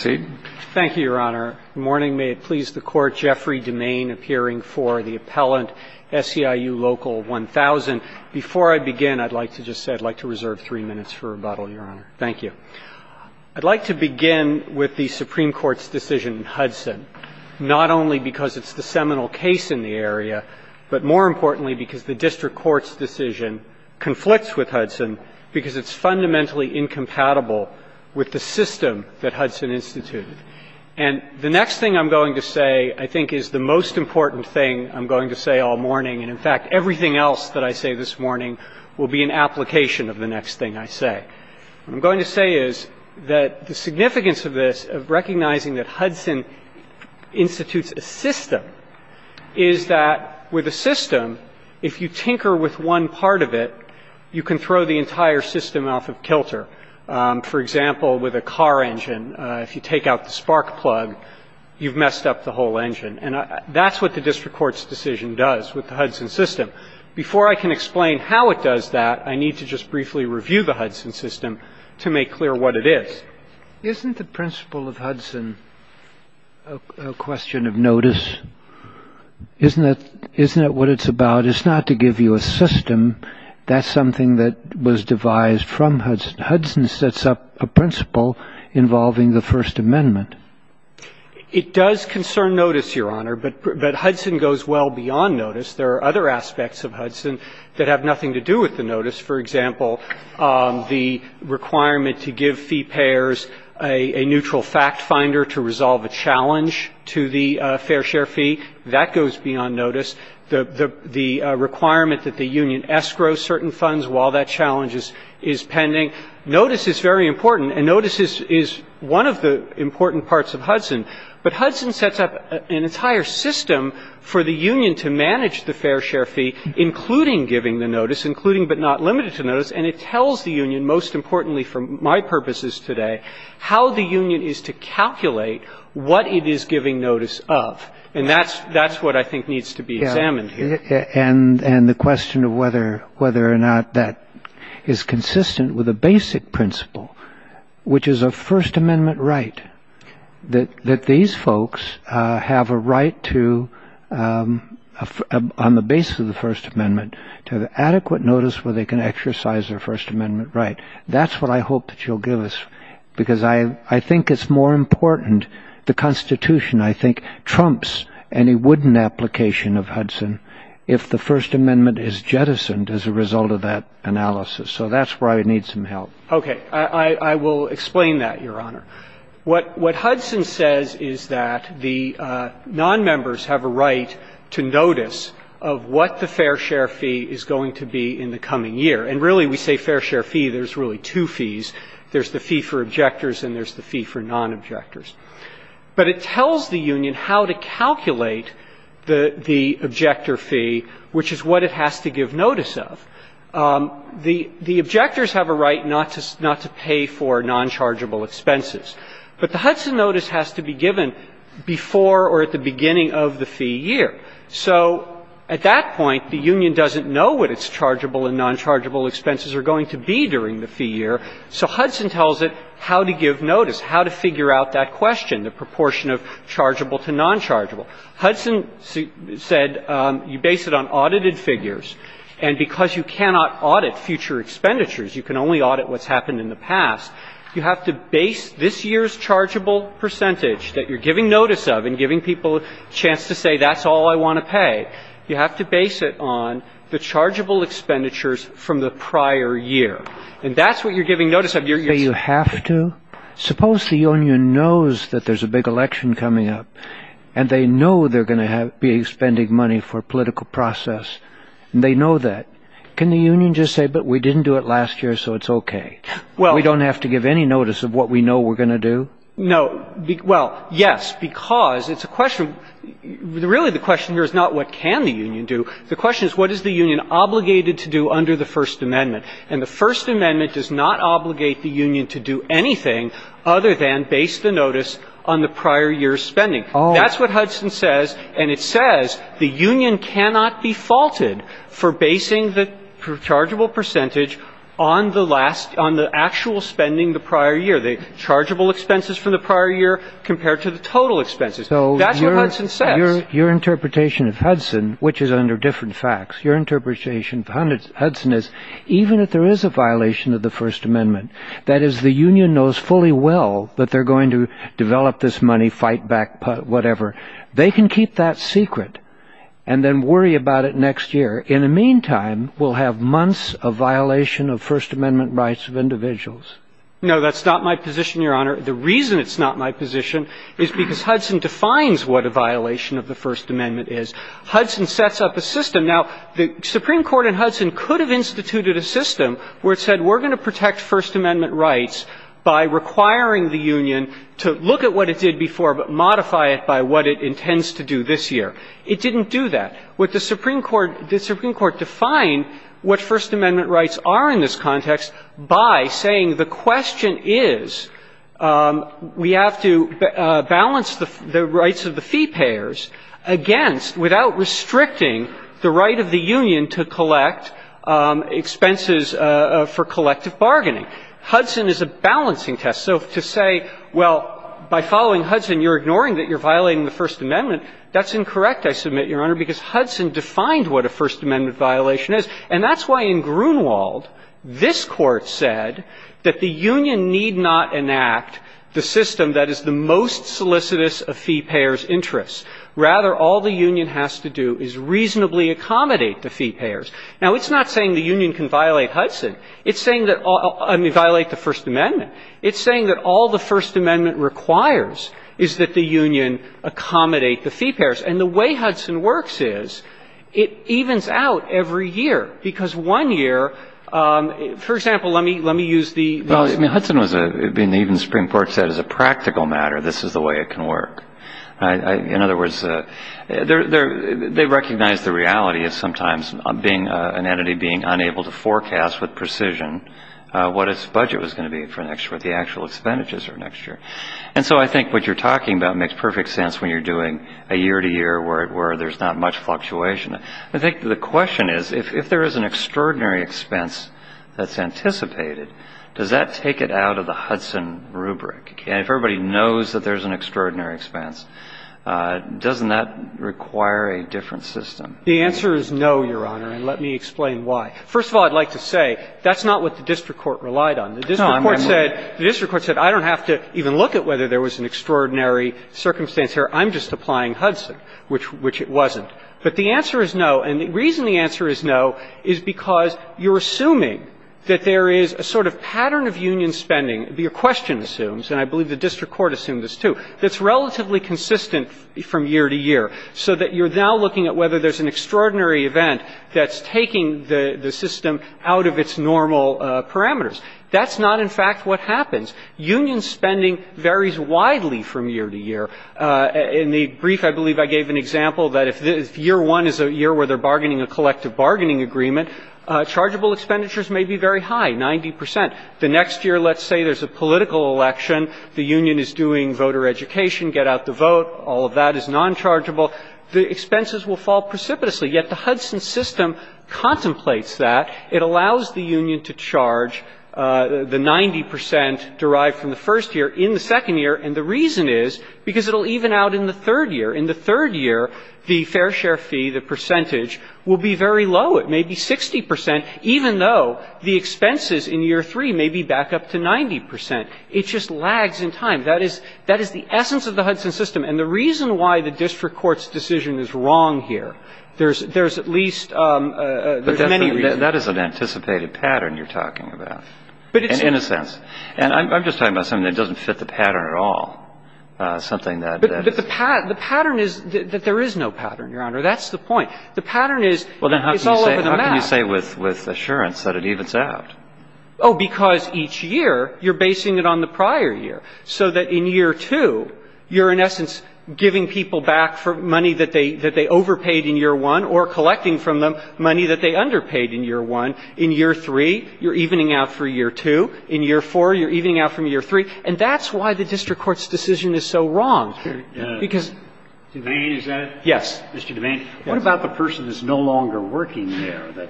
I'd like to begin with the Supreme Court's decision in Hudson, not only because it's the seminal case in the area, but more importantly, because the district court's decision conflicts with Hudson because it's fundamentally incompatible with the system that Hudson institutes, and that's why I'm going to reserve three minutes for rebuttal, Your Honor. And the next thing I'm going to say, I think, is the most important thing I'm going to say all morning, and, in fact, everything else that I say this morning will be an application of the next thing I say. What I'm going to say is that the significance of this, of recognizing that Hudson institutes a system, is that with a system, if you tinker with one part of it, you can throw the entire system off of kilter. For example, with a car engine, if you take out the spark plug, you've messed up the whole engine. And that's what the district court's decision does with the Hudson system. Before I can explain how it does that, I need to just briefly review the Hudson system to make clear what it is. Isn't the principle of Hudson a question of notice? Isn't that what it's about? It's not to give you a system. That's something that was devised from Hudson. Hudson sets up a principle involving the First Amendment. It does concern notice, Your Honor, but Hudson goes well beyond notice. There are other aspects of Hudson that have nothing to do with the notice. For example, the requirement to give fee payers a neutral fact finder to resolve a challenge to the fair share fee, that goes beyond notice. The requirement that the union escrow certain funds while that challenge is pending. Notice is very important, and notice is one of the important parts of Hudson. But Hudson sets up an entire system for the union to manage the fair share fee, including giving the notice, including but not limited to notice. And it tells the union, most importantly for my purposes today, how the union is to calculate what it is giving notice of. And that's what I think needs to be examined here. And the question of whether or not that is consistent with a basic principle, which is a First Amendment right. That these folks have a right to, on the basis of the First Amendment, to have adequate notice where they can exercise their First Amendment right. That's what I hope that you'll give us. Because I think it's more important, the Constitution, I think, trumps any wooden application of Hudson if the First Amendment is jettisoned as a result of that analysis. So that's where I would need some help. Okay. I will explain that, Your Honor. What Hudson says is that the nonmembers have a right to notice of what the fair share fee is going to be in the coming year. And really, we say fair share fee, there's really two fees. There's the fee for objectors and there's the fee for nonobjectors. But it tells the union how to calculate the objector fee, which is what it has to give notice of. The objectors have a right not to pay for nonchargeable expenses. But the Hudson notice has to be given before or at the beginning of the fee year. So at that point, the union doesn't know what its chargeable and nonchargeable expenses are going to be during the fee year. So Hudson tells it how to give notice, how to figure out that question, the proportion of chargeable to nonchargeable. Hudson said you base it on audited figures. And because you cannot audit future expenditures, you can only audit what's happened in the past, you have to base this year's chargeable percentage that you're giving notice of and giving people a chance to say that's all I want to pay. You have to base it on the chargeable expenditures from the prior year. And that's what you're giving notice of. But you have to? Suppose the union knows that there's a big election coming up and they know they're going to be spending money for a political process and they know that. Can the union just say, but we didn't do it last year, so it's OK? We don't have to give any notice of what we know we're going to do? No. Well, yes, because it's a question, really the question here is not what can the union do. The question is what is the union obligated to do under the First Amendment? And the First Amendment does not obligate the union to do anything other than base the notice on the prior year's spending. That's what Hudson says. And it says the union cannot be faulted for basing the chargeable percentage on the last, on the actual spending the prior year. The chargeable expenses from the prior year compared to the total expenses. So that's what Hudson says. Your interpretation of Hudson, which is under different facts, your interpretation of Hudson is even if there is a violation of the First Amendment, that is, the union knows fully well that they're going to develop this money, fight back, whatever. They can keep that secret and then worry about it next year. In the meantime, we'll have months of violation of First Amendment rights of individuals. No, that's not my position, Your Honor. The reason it's not my position is because Hudson defines what a violation of the First Amendment is. Hudson sets up a system. Now, the Supreme Court in Hudson could have instituted a system where it said we're going to protect First Amendment rights by requiring the union to look at what it did before but modify it by what it intends to do this year. It didn't do that. What the Supreme Court, the Supreme Court defined what First Amendment rights are in this context by saying the question is we have to balance the rights of the fee payers against, without restricting the right of the union to collect expenses for collective bargaining. Hudson is a balancing test. So to say, well, by following Hudson, you're ignoring that you're violating the First Amendment, that's incorrect, I submit, Your Honor, because Hudson defined what a First Amendment violation is. And that's why in Grunewald, this Court said that the union need not enact the system that is the most solicitous of fee payers' interests. Rather, all the union has to do is reasonably accommodate the fee payers. Now, it's not saying the union can violate Hudson. It's saying that all — I mean, violate the First Amendment. It's saying that all the First Amendment requires is that the union accommodate the fee payers. And the way Hudson works is it evens out every year. Because one year — for example, let me use the — Well, I mean, Hudson was a — even the Supreme Court said as a practical matter, this is the way it can work. In other words, they recognize the reality of sometimes being — an entity being unable to forecast with precision what its budget was going to be for next year, what the actual expenditures are next year. And so I think what you're talking about makes perfect sense when you're doing a year-to-year where there's not much fluctuation. I think the question is, if there is an extraordinary expense that's anticipated, does that take it out of the Hudson rubric? If everybody knows that there's an extraordinary expense, doesn't that require a different system? The answer is no, Your Honor, and let me explain why. First of all, I'd like to say that's not what the district court relied on. The district court said, I don't have to even look at whether there was an extraordinary circumstance here. I'm just applying Hudson, which it wasn't. But the answer is no, and the reason the answer is no is because you're assuming that there is a sort of pattern of union spending, your question assumes, and I believe the district court assumed this, too, that's relatively consistent from year to year, so that you're now looking at whether there's an extraordinary event that's taking the system out of its normal parameters. That's not, in fact, what happens. Union spending varies widely from year to year. In the brief, I believe I gave an example that if year one is a year where they're bargaining a collective bargaining agreement, chargeable expenditures may be very high, 90 percent. The next year, let's say there's a political election. The union is doing voter education, get out the vote. All of that is nonchargeable. The expenses will fall precipitously. Yet the Hudson system contemplates that. It allows the union to charge the 90 percent derived from the first year in the second year, and the reason is because it will even out in the third year. In the third year, the fair share fee, the percentage, will be very low. It may be 60 percent, even though the expenses in year three may be back up to 90 percent. It just lags in time. That is the essence of the Hudson system. And the reason why the district court's decision is wrong here, there's at least many reasons. But that is an anticipated pattern you're talking about. In a sense. And I'm just talking about something that doesn't fit the pattern at all. Something that is. But the pattern is that there is no pattern, Your Honor. That's the point. The pattern is it's all over the map. Well, then how can you say with assurance that it evens out? Oh, because each year you're basing it on the prior year, so that in year two, you're in essence giving people back money that they overpaid in year one or collecting from them money that they underpaid in year one. In year three, you're evening out for year two. In year four, you're evening out from year three. And that's why the district court's decision is so wrong. Because Mr. DeVane, is that it? Yes. Mr. DeVane, what about the person that's no longer working there?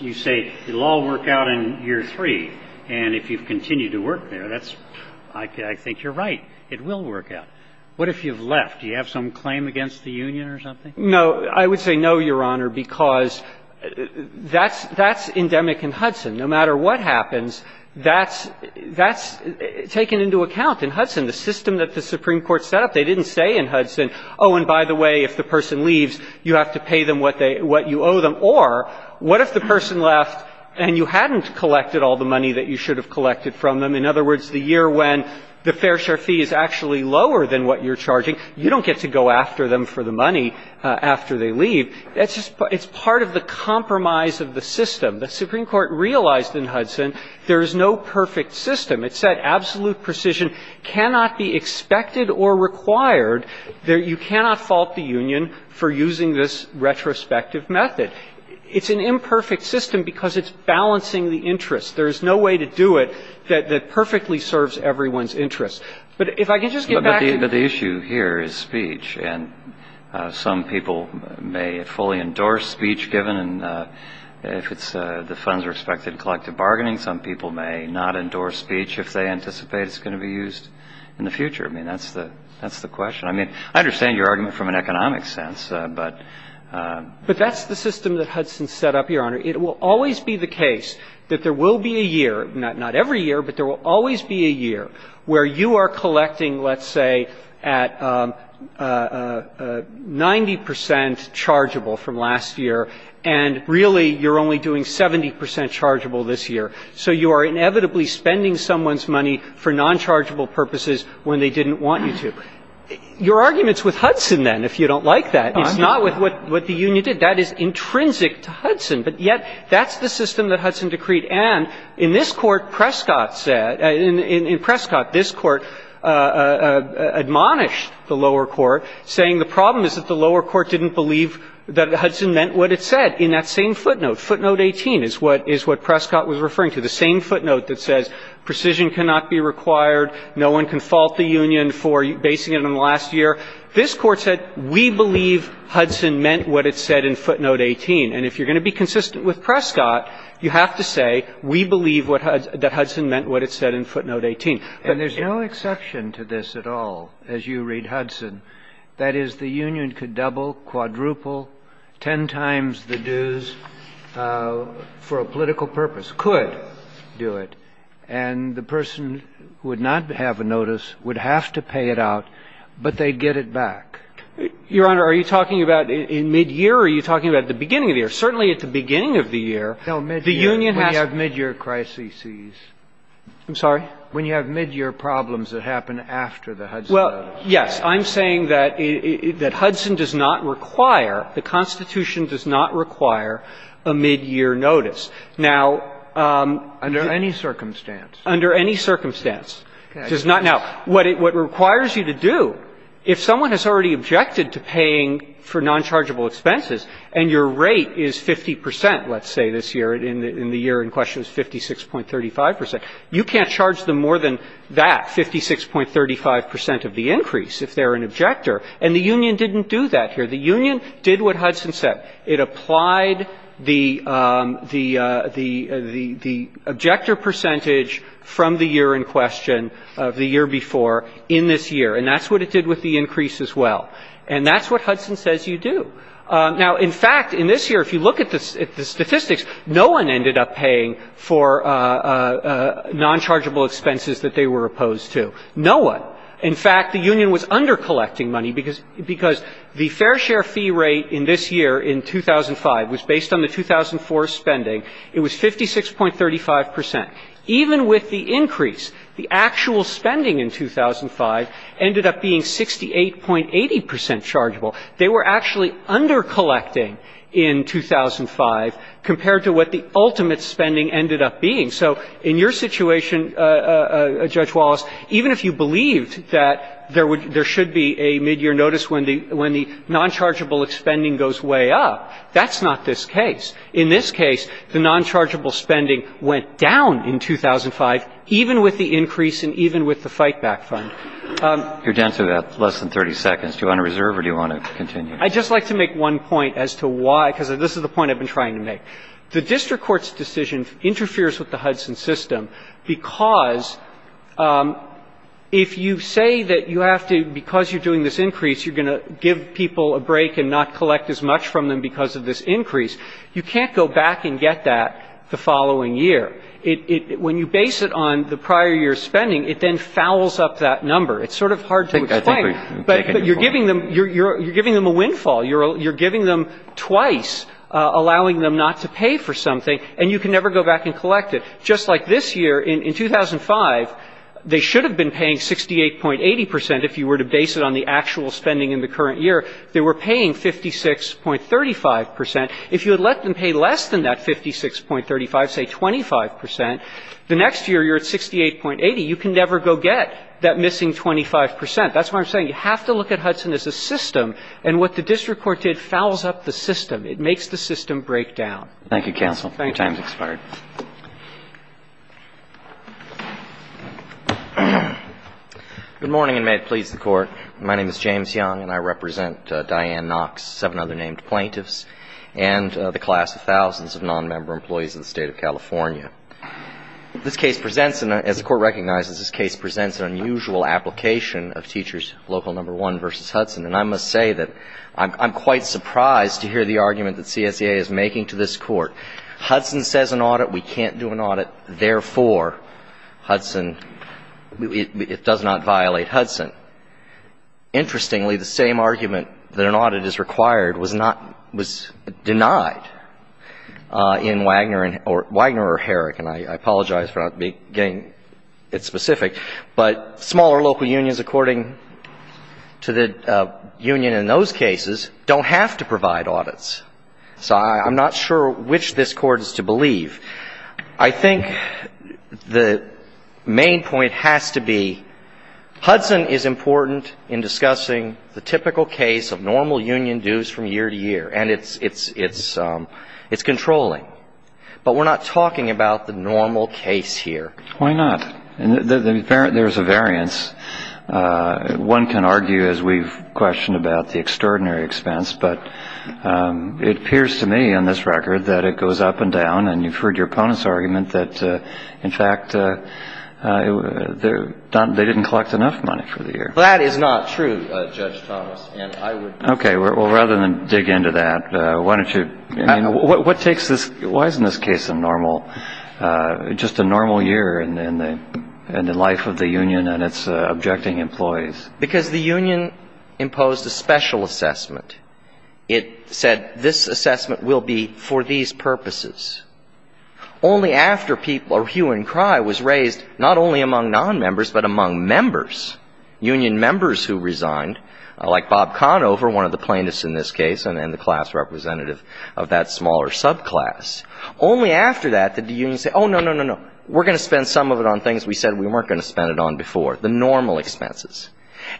You say it will all work out in year three, and if you continue to work there, that's – I think you're right. It will work out. What if you've left? Do you have some claim against the union or something? No. I would say no, Your Honor, because that's – that's endemic in Hudson. No matter what happens, that's – that's taken into account in Hudson. The system that the Supreme Court set up, they didn't say in Hudson, oh, and by the way, if the person leaves, you have to pay them what they – what you owe them. Or what if the person left and you hadn't collected all the money that you should have collected from them? In other words, the year when the fair share fee is actually lower than what you're charging, you don't get to go after them for the money after they leave. That's just – it's part of the compromise of the system. The Supreme Court realized in Hudson there is no perfect system. It said absolute precision cannot be expected or required. There – you cannot fault the union for using this retrospective method. It's an imperfect system because it's balancing the interest. There is no way to do it that perfectly serves everyone's interest. But if I can just get back to the – But the issue here is speech. And some people may fully endorse speech given if it's – the funds are expected in collective bargaining. Some people may not endorse speech if they anticipate it's going to be used in the future. I mean, that's the – that's the question. I mean, I understand your argument from an economic sense, but – But that's the system that Hudson set up, Your Honor. It will always be the case that there will be a year – not every year, but there will always be a year where you are collecting, let's say, at 90 percent chargeable from last year, and really you're only doing 70 percent chargeable this year. So you are inevitably spending someone's money for nonchargeable purposes when they didn't want you to. Your argument's with Hudson, then, if you don't like that. It's not with what the union did. That is intrinsic to Hudson, but yet that's the system that Hudson decreed. And in this Court, Prescott said – in Prescott, this Court admonished the lower court, saying the problem is that the lower court didn't believe that Hudson meant what it said in that same footnote. Footnote 18 is what – is what Prescott was referring to, the same footnote that says precision cannot be required, no one can fault the union for basing it on last year, this Court said we believe Hudson meant what it said in footnote 18. And if you're going to be consistent with Prescott, you have to say we believe what – that Hudson meant what it said in footnote 18. And there's no exception to this at all, as you read Hudson. That is, the union could double, quadruple, ten times the dues for a political purpose, could do it, and the person who would not have a notice would have to pay it out, but they'd get it back. Your Honor, are you talking about in midyear, or are you talking about at the beginning of the year? Certainly at the beginning of the year, the union has to – When you have midyear crises. I'm sorry? When you have midyear problems that happen after the Hudson notice. Well, yes. I'm saying that Hudson does not require, the Constitution does not require a midyear notice. Now – Under any circumstance. Under any circumstance. Okay. Now, what it requires you to do, if someone has already objected to paying for nonchargeable expenses, and your rate is 50 percent, let's say, this year, in the year in question is 56.35 percent, you can't charge them more than that, 56.35 percent of the increase if they're an objector. And the union didn't do that here. The union did what Hudson said. It applied the objector percentage from the year in question of the year before in this year, and that's what it did with the increase as well. And that's what Hudson says you do. Now, in fact, in this year, if you look at the statistics, no one ended up paying for nonchargeable expenses that they were opposed to. No one. In fact, the union was undercollecting money, because the fair share fee rate in this year in 2005 was based on the 2004 spending. It was 56.35 percent. Even with the increase, the actual spending in 2005 ended up being 68.80 percent chargeable. They were actually undercollecting in 2005 compared to what the ultimate spending ended up being. So in your situation, Judge Wallace, even if you believed that there should be a midyear notice when the nonchargeable spending goes way up, that's not this case. In this case, the nonchargeable spending went down in 2005, even with the increase and even with the fightback fund. Roberts. You're down to less than 30 seconds. Do you want to reserve or do you want to continue? I'd just like to make one point as to why, because this is the point I've been trying to make. The district court's decision interferes with the Hudson system because if you say that you have to, because you're doing this increase, you're going to give people a break and not collect as much from them because of this increase, you can't go back and get that the following year. When you base it on the prior year's spending, it then fouls up that number. It's sort of hard to explain. But you're giving them a windfall. You're giving them twice, allowing them not to pay for something, and you can never go back and collect it. So just like this year, in 2005, they should have been paying 68.80 percent if you were to base it on the actual spending in the current year. They were paying 56.35 percent. If you had let them pay less than that 56.35, say 25 percent, the next year you're at 68.80. You can never go get that missing 25 percent. That's why I'm saying you have to look at Hudson as a system. And what the district court did fouls up the system. It makes the system break down. Thank you, counsel. Your time has expired. Good morning, and may it please the Court. My name is James Young, and I represent Diane Knox, seven other named plaintiffs, and the class of thousands of nonmember employees in the state of California. This case presents, as the Court recognizes, this case presents an unusual application of Teachers Local No. 1 v. Hudson. And I must say that I'm quite surprised to hear the argument that CSEA is making to this Court. Hudson says an audit. We can't do an audit. Therefore, Hudson, it does not violate Hudson. Interestingly, the same argument that an audit is required was not, was denied in Wagner or Herrick, and I apologize for not getting it specific. But smaller local unions, according to the union in those cases, don't have to provide audits. So I'm not sure which this Court is to believe. I think the main point has to be, Hudson is important in discussing the typical case of normal union dues from year to year, and it's controlling. But we're not talking about the normal case here. Why not? There's a variance. One can argue, as we've questioned, about the extraordinary expense. But it appears to me on this record that it goes up and down. And you've heard your opponent's argument that, in fact, they didn't collect enough money for the year. Well, that is not true, Judge Thomas. Okay. Well, rather than dig into that, why don't you, I mean, what takes this, why isn't this case a normal, just a normal year in the life of the union and its objecting employees? Because the union imposed a special assessment. It said, this assessment will be for these purposes. Only after people, or hue and cry, was raised, not only among nonmembers, but among members, union members who resigned, like Bob Conover, one of the plaintiffs in this class. Only after that did the union say, oh, no, no, no, no, we're going to spend some of it on things we said we weren't going to spend it on before, the normal expenses.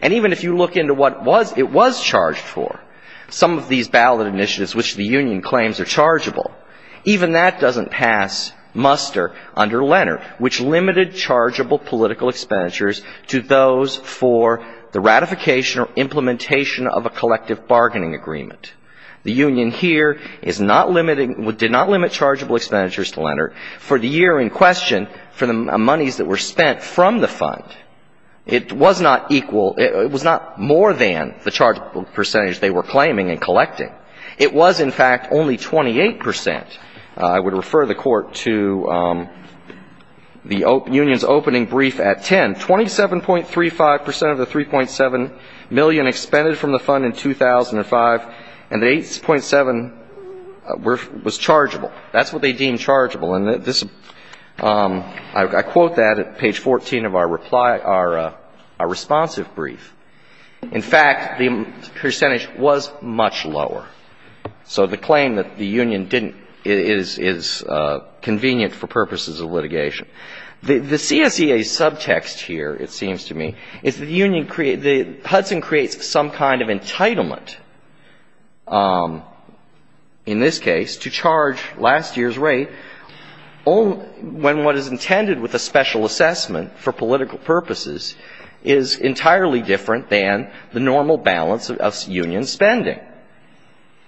And even if you look into what it was charged for, some of these ballot initiatives, which the union claims are chargeable, even that doesn't pass muster under Lenner, which limited chargeable political expenditures to those for the ratification or implementation of a collective bargaining agreement. The union here is not limiting, did not limit chargeable expenditures to Lenner for the year in question for the monies that were spent from the fund. It was not equal, it was not more than the chargeable percentage they were claiming and collecting. It was, in fact, only 28 percent. I would refer the Court to the union's opening brief at 10. And 27.35 percent of the 3.7 million expended from the fund in 2005, and the 8.7 was chargeable. That's what they deemed chargeable. And I quote that at page 14 of our responsive brief. In fact, the percentage was much lower. So the claim that the union didn't is convenient for purposes of litigation. The CSEA subtext here, it seems to me, is that the Hudson creates some kind of entitlement, in this case, to charge last year's rate when what is intended with a special assessment for political purposes is entirely different than the normal balance of union spending.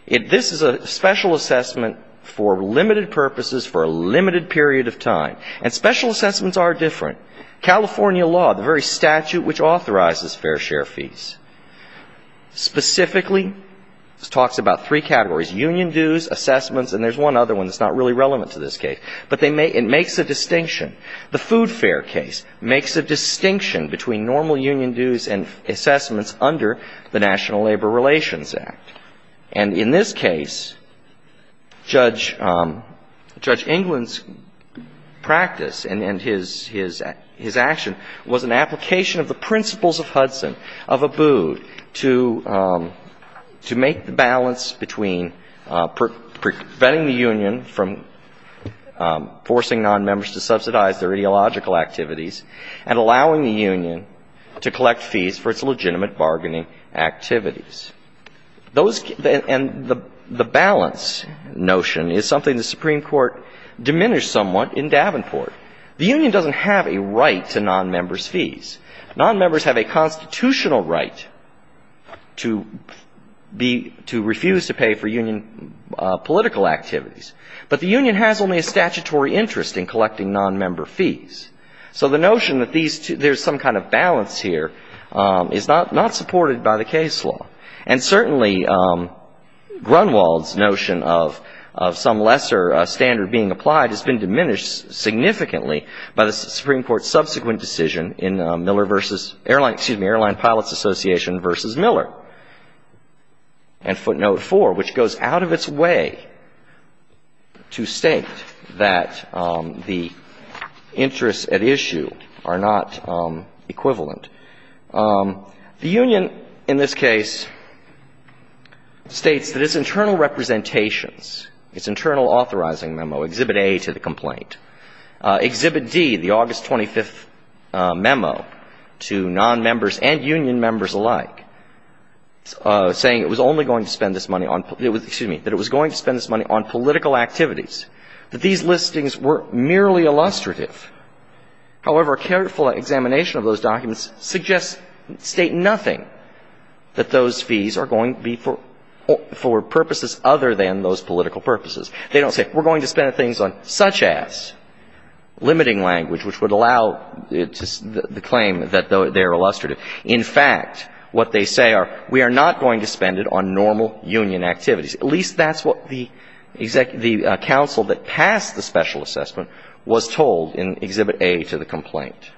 This is a special assessment for limited purposes for a limited period of time. And special assessments are different. California law, the very statute which authorizes fair share fees, specifically talks about three categories, union dues, assessments, and there's one other one that's not really relevant to this case. But it makes a distinction. The food fare case makes a distinction between normal union dues and assessments under the National Labor Relations Act. And in this case, Judge England's practice and his action was an application of the principles of Hudson, of Abood, to make the balance between preventing the union from forcing nonmembers to subsidize their ideological activities and allowing the union to collect fees for its legitimate bargaining activities. And the balance notion is something the Supreme Court diminished somewhat in Davenport. The union doesn't have a right to nonmembers' fees. Nonmembers have a constitutional right to refuse to pay for union political activities. But the union has only a statutory interest in collecting nonmember fees. So the notion that there's some kind of balance here is not supported by the case law. And certainly, Grunwald's notion of some lesser standard being applied has been diminished significantly by the Supreme Court's subsequent decision in Miller v. — excuse me, Airline Pilots Association v. Miller and footnote 4, which goes out of its way to state that the interests at issue are not equivalent. The union, in this case, states that its internal representations, its internal authorizing memo, Exhibit A to the complaint, Exhibit D, the August 25th memo, to nonmembers and union members alike, saying it was only going to spend this money on — excuse me, that it was going to spend this money on political activities, that these listings were merely illustrative. However, a careful examination of those documents suggests — state nothing that those fees are going to be for purposes other than those political purposes. They don't say, we're going to spend things on such-as, limiting language, which would allow the claim that they're illustrative. In fact, what they say are, we are not going to spend it on normal union activities. At least that's what the — the counsel that passed the special assessment was told in Exhibit A to the complaint.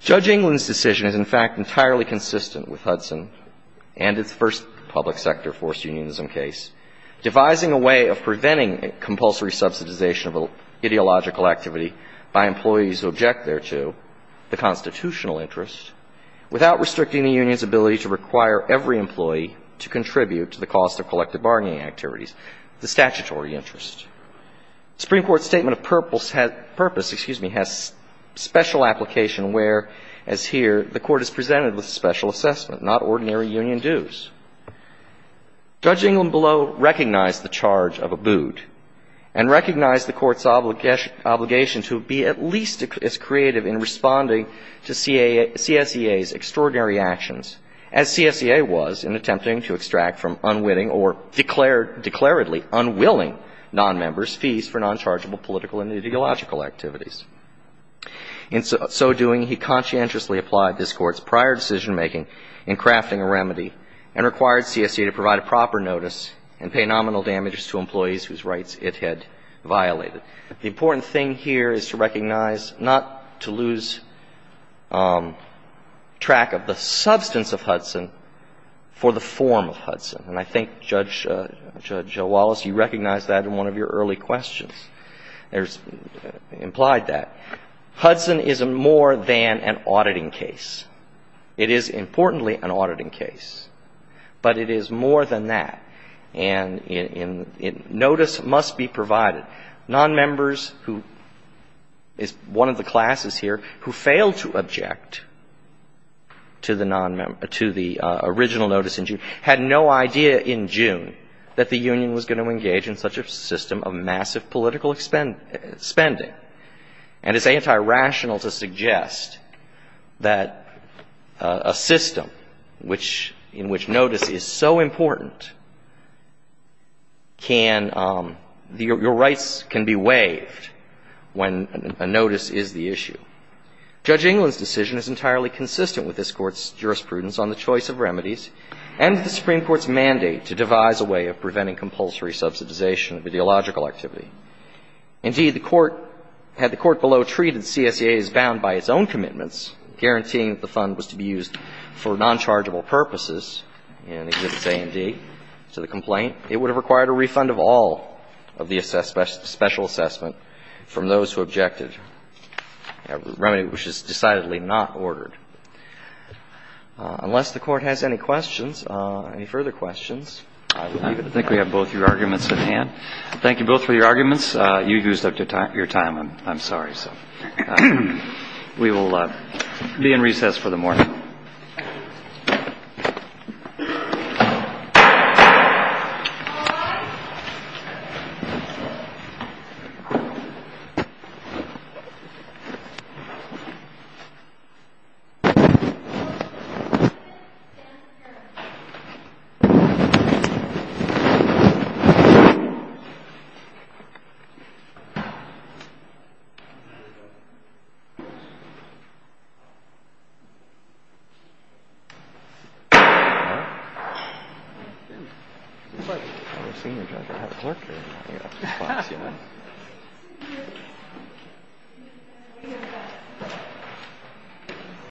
Judge England's decision is, in fact, entirely consistent with Hudson and its first public sector forced unionism case, devising a way of preventing compulsory subsidization of ideological activity by employees who object thereto the constitutional interest, without restricting the union's ability to require every employee to contribute to the cost of collective bargaining activities, the statutory interest. The Supreme Court's statement of purpose — excuse me — has special application where, as here, the Court is presented with special assessment, not ordinary union dues. Judge England below recognized the charge of Abood and recognized the Court's obligation to be at least as creative in responding to CSEA's extraordinary actions as CSEA was in attempting to extract from unwitting or declared — declaredly unwilling nonmembers' fees for nonchargeable political and ideological activities. In so doing, he conscientiously applied this Court's prior decision-making in crafting a remedy and required CSEA to provide a proper notice and pay nominal damages to employees whose rights it had violated. The important thing here is to recognize — not to lose track of the substance of Hudson for the form of Hudson. And I think Judge Wallace, you recognized that in one of your early questions. There's implied that. Hudson is more than an auditing case. It is, importantly, an auditing case. But it is more than that. And notice must be provided. Nonmembers who — it's one of the classes here — who failed to object to the original notice in June had no idea in June that the union was going to engage in such a system of massive political spending. And it's anti-rational to suggest that a system which — in which notice is so important can — your rights can be waived when a notice is the issue. Judge England's decision is entirely consistent with this Court's jurisprudence on the choice of remedies and the Supreme Court's mandate to devise a way of preventing compulsory subsidization of ideological activity. Indeed, the Court — had the Court below treated CSEA as bound by its own commitments, guaranteeing that the fund was to be used for nonchargeable purposes, and it did say indeed to the complaint, it would have required a refund of all of the special assessment from those who objected, a remedy which is decidedly not ordered. Unless the Court has any questions, any further questions, I will leave it. I think we have both your arguments at hand. Thank you both for your arguments. You used up your time. I'm sorry. So we will be in recess for the morning. Thank you.